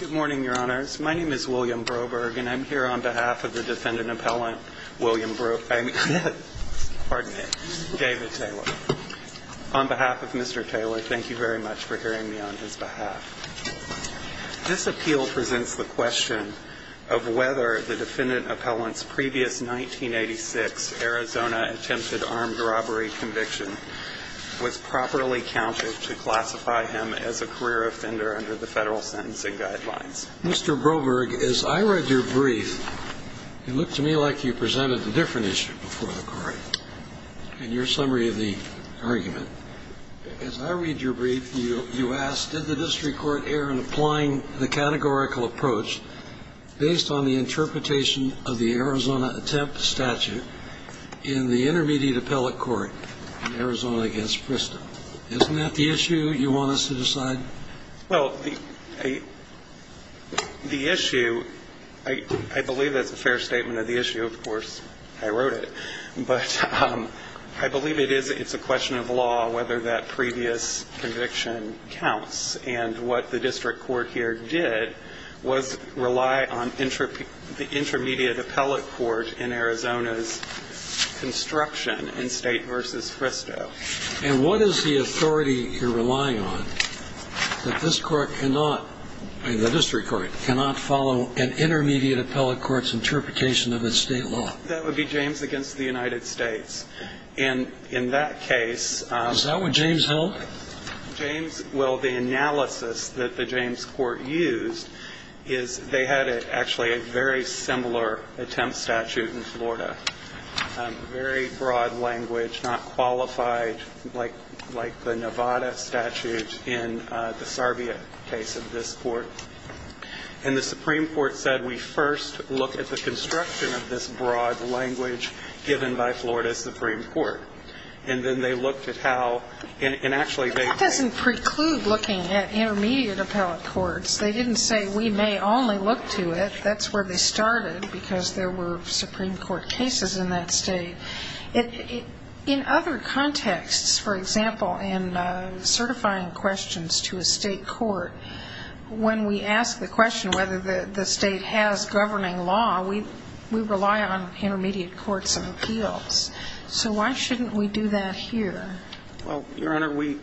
Good morning, your honors. My name is William Broberg, and I'm here on behalf of the defendant appellant, William Bro, I mean, pardon me, David Taylor. On behalf of Mr. Taylor, thank you very much for hearing me on his behalf. This appeal presents the question of whether the defendant appellant's previous 1986 Arizona attempted armed robbery conviction was properly counted to classify him as a career offender under the federal sentencing guidelines. Mr. Broberg, as I read your brief, it looked to me like you presented a different issue before the Court in your summary of the argument. As I read your brief, you asked, did the district court err in applying the categorical approach based on the interpretation of the Arizona attempt statute in the intermediate appellate court in Arizona against Bristol? Isn't that the issue you want us to decide? Well, the issue, I believe that's a fair statement of the issue. Of course, I wrote it. But I believe it's a question of law whether that previous conviction counts. And what the district court here did was rely on the intermediate appellate court in Arizona's construction in State v. Bristol. And what is the authority you're relying on that this court cannot, the district court, cannot follow an intermediate appellate court's interpretation of its state law? That would be James against the United States. And in that case... Is that what James held? Well, the analysis that the James court used is they had actually a very similar attempt statute in Florida. Very broad language, not qualified like the Nevada statute in the Sarvia case of this court. And the Supreme Court said we first look at the construction of this broad language given by Florida's Supreme Court. And then they looked at how, and actually they... That doesn't preclude looking at intermediate appellate courts. They didn't say we may only look to it. That's where they started because there were Supreme Court cases in that state. In other contexts, for example, in certifying questions to a state court, when we ask the question whether the state has governing law, we rely on intermediate courts and appeals. So why shouldn't we do that here? Well, Your Honor, we,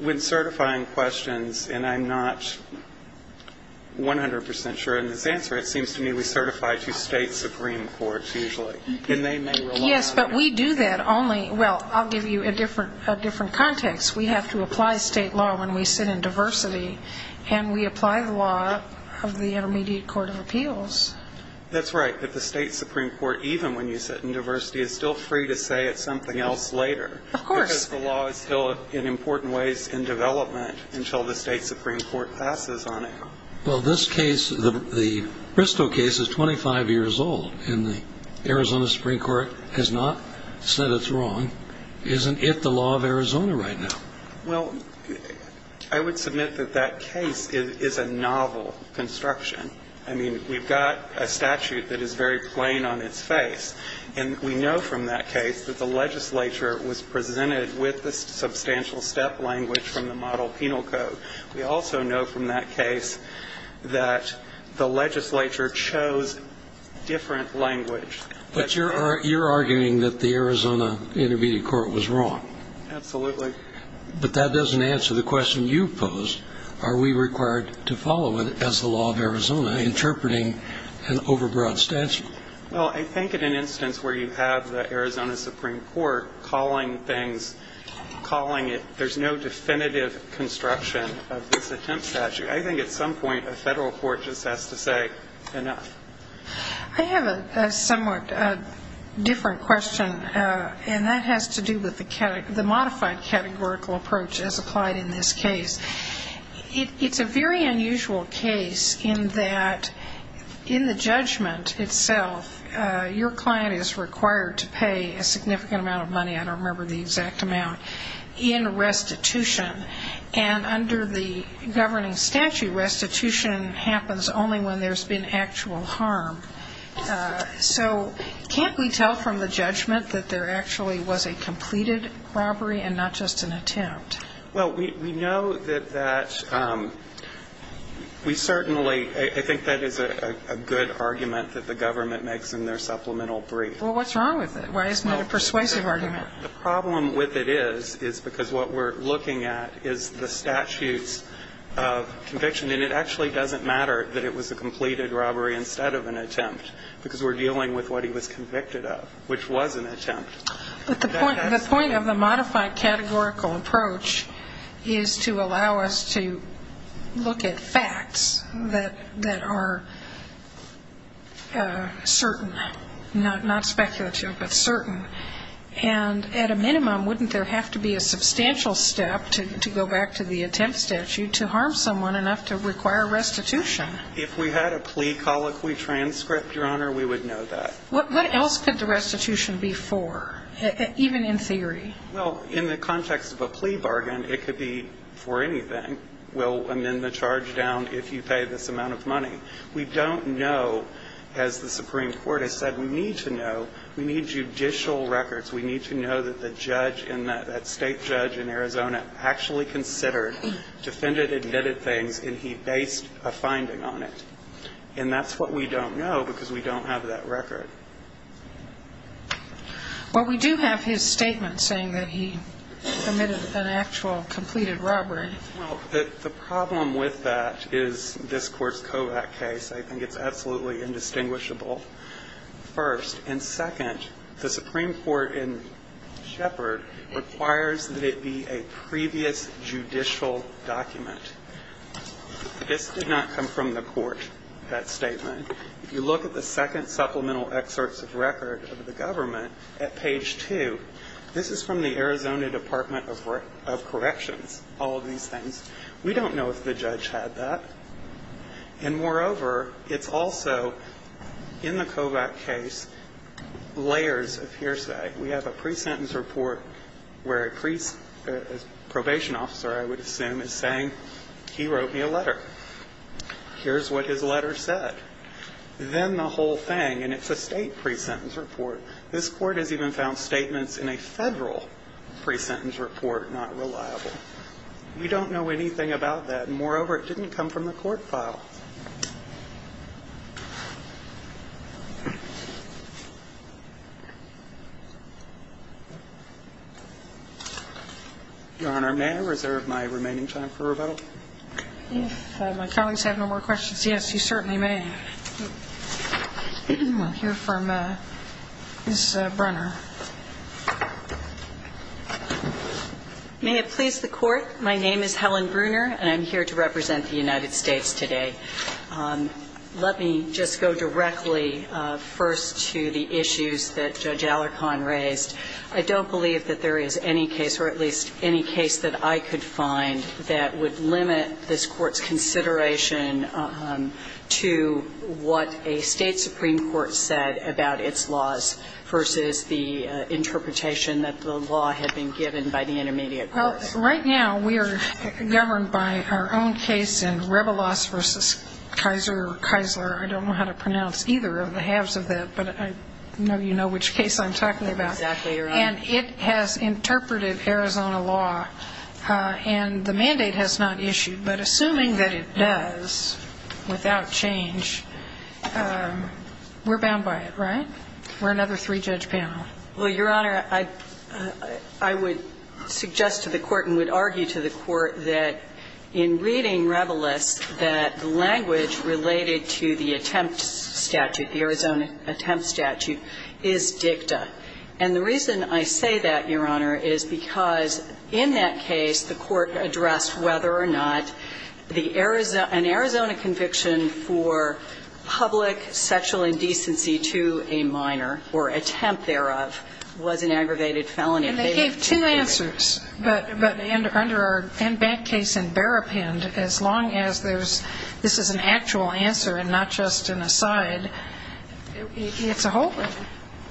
when certifying questions, and I'm not 100% sure in this answer, it seems to me we certify to state Supreme Courts usually. And they may rely on... Yes, but we do that only, well, I'll give you a different context. We have to apply state law when we sit in diversity, and we apply the law of the intermediate court of appeals. That's right. But the state Supreme Court, even when you sit in diversity, is still free to say it's something else later. Of course. Because the law is still in important ways in development until the state Supreme Court passes on it. Well, this case, the Bristow case, is 25 years old, and the Arizona Supreme Court has not said it's wrong. Isn't it the law of Arizona right now? Well, I would submit that that case is a novel construction. I mean, we've got a statute that is very plain on its face. And we know from that case that the legislature was presented with the substantial step language from the model penal code. We also know from that case that the legislature chose different language. But you're arguing that the Arizona intermediate court was wrong. Absolutely. But that doesn't answer the question you posed. Are we required to follow it as the law of Arizona, interpreting an overbroad statute? Well, I think in an instance where you have the Arizona Supreme Court calling things, calling it, there's no definitive construction of this attempt statute. I think at some point a federal court just has to say enough. I have a somewhat different question, and that has to do with the modified categorical approach as applied in this case. It's a very unusual case in that in the judgment itself, your client is required to pay a significant amount of money, I don't remember the exact amount, in restitution. And under the governing statute, restitution happens only when there's been actual harm. So can't we tell from the judgment that there actually was a completed robbery and not just an attempt? Well, we know that that's we certainly I think that is a good argument that the government makes in their supplemental brief. Well, what's wrong with it? Why isn't it a persuasive argument? The problem with it is, is because what we're looking at is the statutes of conviction. And it actually doesn't matter that it was a completed robbery instead of an attempt, because we're dealing with what he was convicted of, which was an attempt. But the point of the modified categorical approach is to allow us to look at facts that are certain, not speculative, but certain. And at a minimum, wouldn't there have to be a substantial step, to go back to the attempt statute, to harm someone enough to require restitution? If we had a plea colloquy transcript, Your Honor, we would know that. What else could the restitution be for, even in theory? Well, in the context of a plea bargain, it could be for anything. We'll amend the charge down if you pay this amount of money. We don't know, as the Supreme Court has said, we need to know. We need judicial records. We need to know that the judge in that state judge in Arizona actually considered, defended, admitted things, and he based a finding on it. And that's what we don't know, because we don't have that record. Well, we do have his statement saying that he committed an actual completed robbery. Well, the problem with that is this Court's Kovach case. I think it's absolutely indistinguishable, first. And second, the Supreme Court in Shepard requires that it be a previous judicial document. This did not come from the Court, that statement. If you look at the second supplemental excerpts of record of the government at page 2, this is from the Arizona Department of Corrections, all of these things. We don't know if the judge had that. And moreover, it's also in the Kovach case layers of hearsay. We have a pre-sentence report where a probation officer, I would assume, is saying, he wrote me a letter. Here's what his letter said. Then the whole thing, and it's a state pre-sentence report. This Court has even found statements in a Federal pre-sentence report not reliable. We don't know anything about that. And moreover, it didn't come from the Court file. Your Honor, may I reserve my remaining time for rebuttal? If my colleagues have no more questions, yes, you certainly may. We'll hear from Ms. Brunner. May it please the Court. My name is Helen Brunner, and I'm here to represent the United States today. Let me just go directly first to the issues that Judge Alarcon raised. I don't believe that there is any case, or at least any case that I could find, that would limit this Court's consideration to what a state supreme court said about its laws versus the interpretation that the law had been given by the intermediate courts. Well, right now we are governed by our own case in Rebelos v. Kaiser or Kaisler. I don't know how to pronounce either of the halves of that, but I know you know which case I'm talking about. Exactly, Your Honor. And it has interpreted Arizona law, and the mandate has not issued. But assuming that it does, without change, we're bound by it, right? We're another three-judge panel. Well, Your Honor, I would suggest to the Court and would argue to the Court that in reading Rebelos, that the language related to the attempt statute, the Arizona attempt statute, is dicta. And the reason I say that, Your Honor, is because in that case the Court addressed whether or not an Arizona conviction for public sexual indecency to a minor or attempt thereof was an aggravated felony. And they gave two answers. But under our back case in Berrapind, as long as this is an actual answer and not just an aside, it's a holding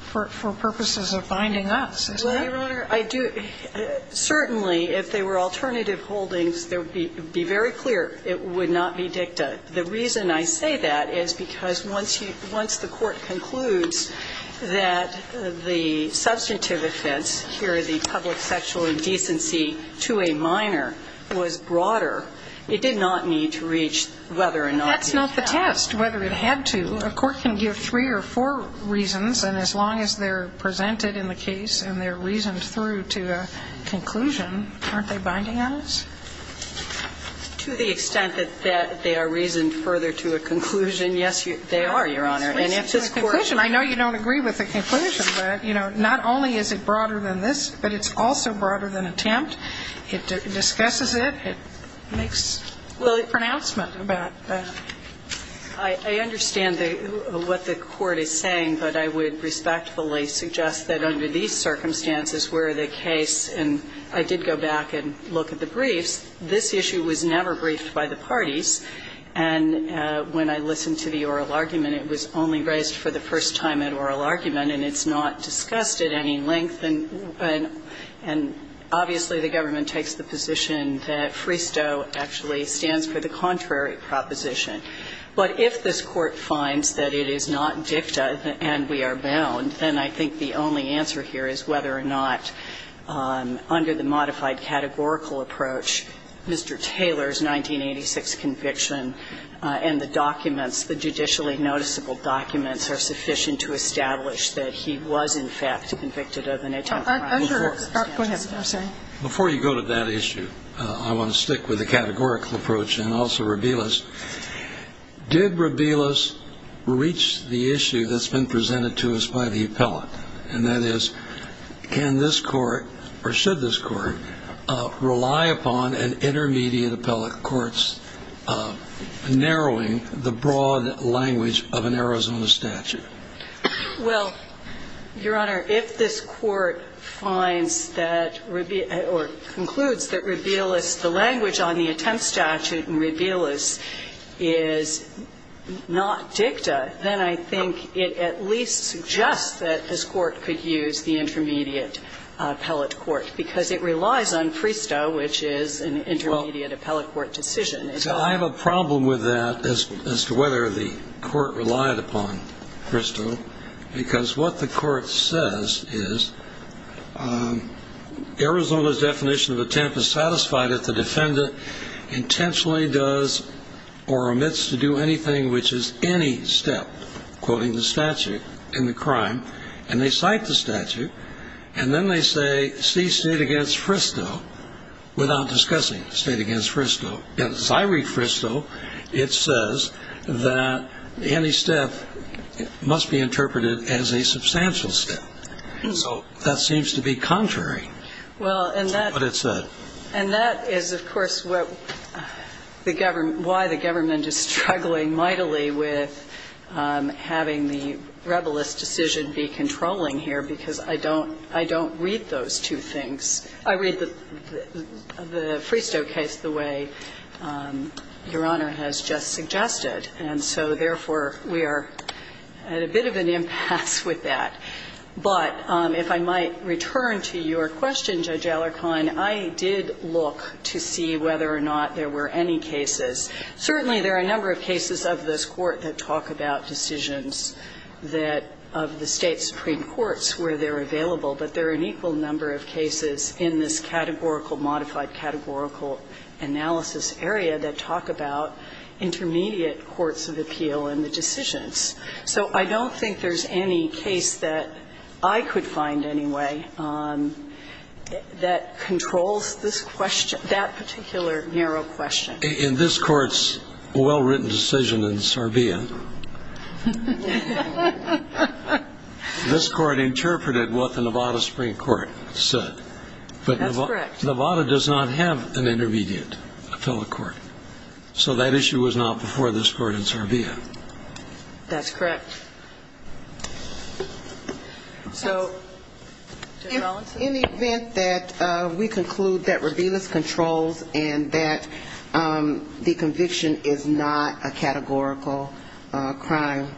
for purposes of binding us. Well, Your Honor, I do – certainly if they were alternative holdings, it would be very clear it would not be dicta. The reason I say that is because once you – once the Court concludes that the substantive offense, here the public sexual indecency to a minor, was broader, it did not need to reach whether or not it had. But that's not the test, whether it had to. A court can give three or four reasons, and as long as they're presented in the case and they're reasoned through to a conclusion, aren't they binding on us? To the extent that they are reasoned further to a conclusion, yes, they are, Your Honor. And if this Court – It's a conclusion. I know you don't agree with the conclusion, but, you know, not only is it broader than this, but it's also broader than attempt. It discusses it. It makes pronouncement about that. I understand what the Court is saying, but I would respectfully suggest that under these circumstances where the case – and I did go back and look at the briefs – this issue was never briefed by the parties. And when I listened to the oral argument, it was only raised for the first time at oral argument, and it's not discussed at any length. And obviously, the government takes the position that FRISTO actually stands for the contrary proposition. But if this Court finds that it is not dicta and we are bound, then I think the only answer here is whether or not under the modified categorical approach, Mr. Taylor's 1986 conviction and the documents, the judicially noticeable documents, are sufficient to establish that he was, in fact, convicted of an attempted crime. Before you go to that issue, I want to stick with the categorical approach and also Rabelis. Did Rabelis reach the issue that's been presented to us by the appellate, and that is, can this Court, or should this Court, rely upon an intermediate appellate court's narrowing the broad language of an Arizona statute? Well, Your Honor, if this Court finds that – or concludes that Rabelis, the language on the attempt statute in Rabelis is not dicta, then I think it at least suggests that this Court could use the intermediate appellate court, because it relies on FRISTO, which is an intermediate appellate court decision. So I have a problem with that as to whether the Court relied upon FRISTO, because what the Court says is Arizona's definition of attempt is satisfied if the defendant intentionally does or omits to do anything which is any step, quoting the statute, in the crime, and they cite the statute, and then they say, see State against FRISTO without discussing State against FRISTO. As I read FRISTO, it says that any step must be interpreted as a substantial step. So that seems to be contrary to what it said. Well, and that is, of course, what the government – why the government is struggling mightily with having the Rabelis decision be controlling here, because I don't – I don't read those two things. I read the FRISTO case the way Your Honor has just suggested. And so, therefore, we are at a bit of an impasse with that. But if I might return to your question, Judge Alarcon, I did look to see whether or not there were any cases. Certainly, there are a number of cases of this Court that talk about decisions that – of the State supreme courts where they're available, but there are an equal number of cases in this categorical, modified categorical analysis area that talk about intermediate courts of appeal and the decisions. So I don't think there's any case that I could find anyway that controls this question – that particular narrow question. In this Court's well-written decision in Sarvia, this Court interpreted what the Nevada Supreme Court said. That's correct. But Nevada does not have an intermediate appellate court. So that issue was not before this Court in Sarvia. That's correct. So in the event that we conclude that Rabelis controls and that the conviction is not a categorical crime,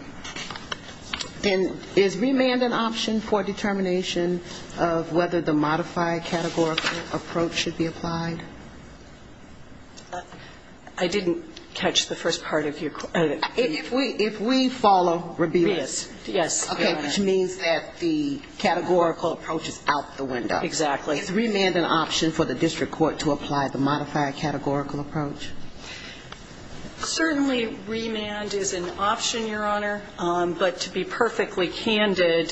then is remand an option for determination of whether the modified categorical approach should be applied? I didn't catch the first part of your question. If we follow Rabelis. Yes. Okay, which means that the categorical approach is out the window. Exactly. Is remand an option for the district court to apply the modified categorical approach? Certainly, remand is an option, Your Honor. But to be perfectly candid,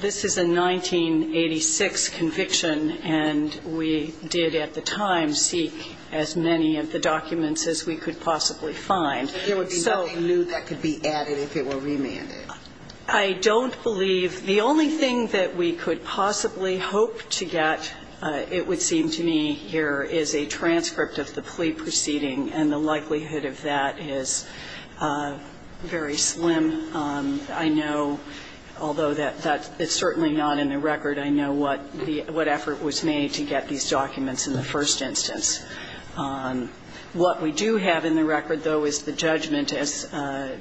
this is a 1986 conviction, and we did at the time seek as many of the documents as we could possibly find. There would be nothing new that could be added if it were remanded. I don't believe. The only thing that we could possibly hope to get, it would seem to me here, is a transcript of the plea proceeding, and the likelihood of that is very slim. I know, although that's certainly not in the record, I know what effort was made to get these documents in the first instance. What we do have in the record, though, is the judgment as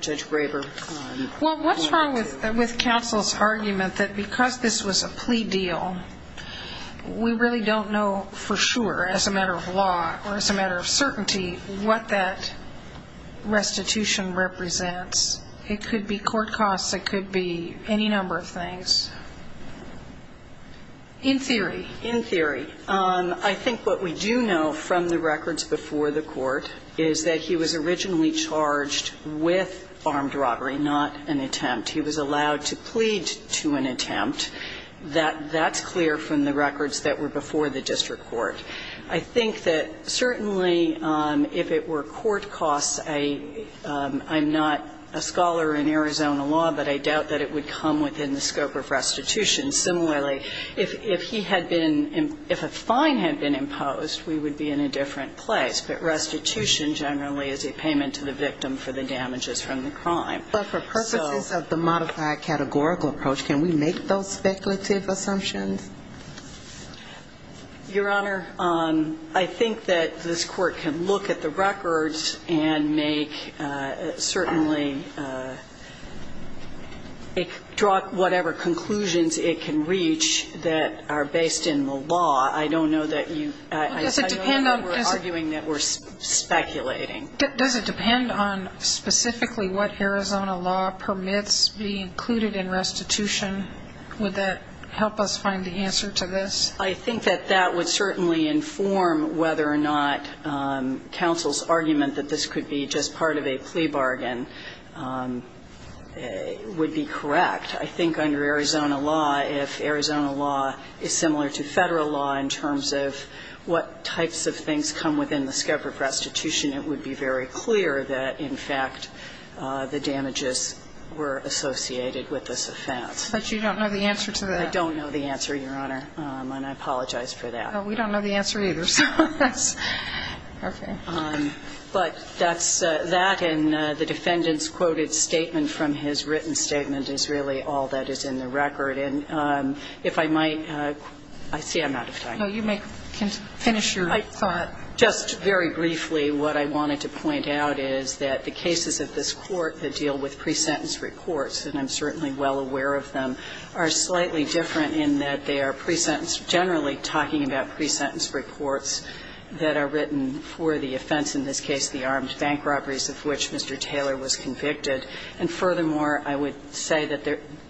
Judge Graber pointed to. Well, what's wrong with counsel's argument that because this was a plea deal, we really don't know for sure as a matter of law or as a matter of certainty what that restitution represents? It could be court costs. It could be any number of things. In theory. In theory. I think what we do know from the records before the court is that he was originally charged with armed robbery, not an attempt. He was allowed to plead to an attempt. That's clear from the records that were before the district court. I think that certainly if it were court costs, I'm not a scholar in Arizona law, but I doubt that it would come within the scope of restitution. Similarly, if he had been, if a fine had been imposed, we would be in a different place. But restitution generally is a payment to the victim for the damages from the crime. But for purposes of the modified categorical approach, can we make those speculative assumptions? Your Honor, I think that this Court can look at the records and make certainly draw whatever conclusions it can reach that are based in the law. I don't know that you argue that we're speculating. Does it depend on specifically what Arizona law permits be included in restitution? Would that help us find the answer to this? I think that that would certainly inform whether or not counsel's argument that this could be just part of a plea bargain. It would be correct. I think under Arizona law, if Arizona law is similar to Federal law in terms of what types of things come within the scope of restitution, it would be very clear that, in fact, the damages were associated with this offense. But you don't know the answer to that? I don't know the answer, Your Honor, and I apologize for that. Well, we don't know the answer either, so that's okay. But that's that, and the defendant's quoted statement from his written statement is really all that is in the record. And if I might, I see I'm out of time. No, you may finish your thought. Just very briefly, what I wanted to point out is that the cases of this Court that deal with pre-sentence reports, and I'm certainly well aware of them, are slightly different in that they are generally talking about pre-sentence reports that are written for the offense, in this case the armed bank robberies of which Mr. Taylor was convicted, and furthermore, I would say that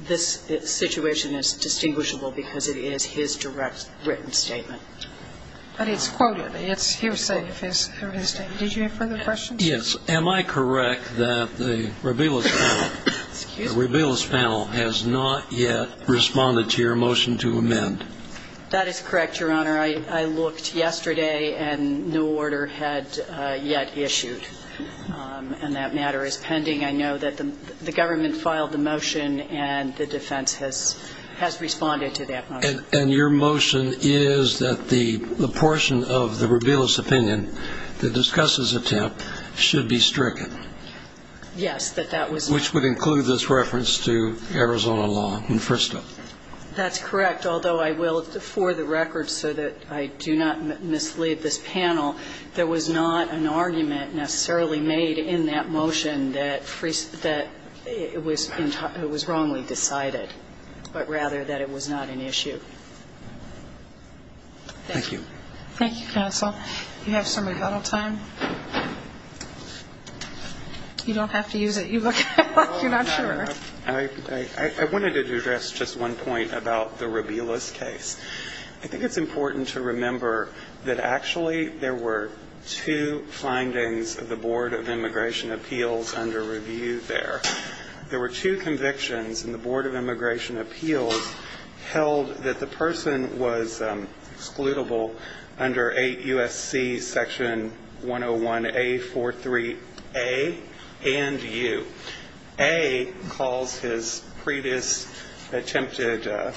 this situation is distinguishable because it is his direct written statement. But it's quoted. It's hearsay of his written statement. Did you have further questions? Yes. Am I correct that the Robiles panel has not yet responded to your motion to amend? That is correct, Your Honor. I looked yesterday, and no order had yet issued. And that matter is pending. I know that the government filed the motion, and the defense has responded to that motion. And your motion is that the portion of the Robiles opinion that discusses attempt should be stricken? Yes, that that was. Which would include this reference to Arizona law in Fristo. That's correct, although I will, for the record, so that I do not mislead this panel, there was not an argument necessarily made in that motion that it was wrongly decided, but rather that it was not an issue. Thank you. Thank you, counsel. You have some rebuttal time. You don't have to use it. You look like you're not sure. I wanted to address just one point about the Robiles case. I think it's important to remember that actually there were two findings of the Board of Immigration Appeals under review there. There were two convictions, and the Board of Immigration Appeals held that the person was excludable under 8 U.S.C. section 101A43A and U. A calls his previous attempted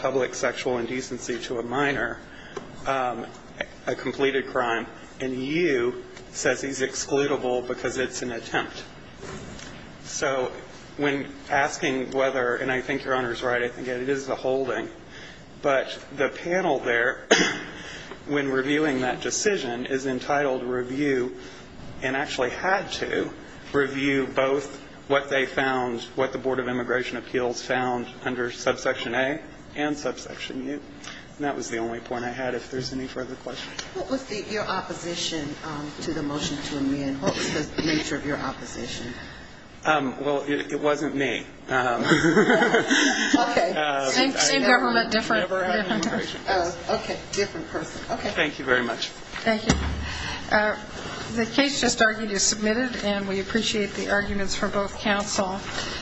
public sexual indecency to a minor a completed crime, and U says he's excludable because it's an attempt. So when asking whether, and I think Your Honor is right, I think it is a holding, but the panel there, when reviewing that decision, is entitled to review and actually had to review both what they found, what the Board of Immigration Appeals found under subsection A and subsection U. And that was the only point I had, if there's any further questions. What was your opposition to the motion to amend? What was the nature of your opposition? Well, it wasn't me. Okay. Same government, different. Okay, different person. Thank you very much. Thank you. The case just argued is submitted, and we appreciate the arguments from both counsel.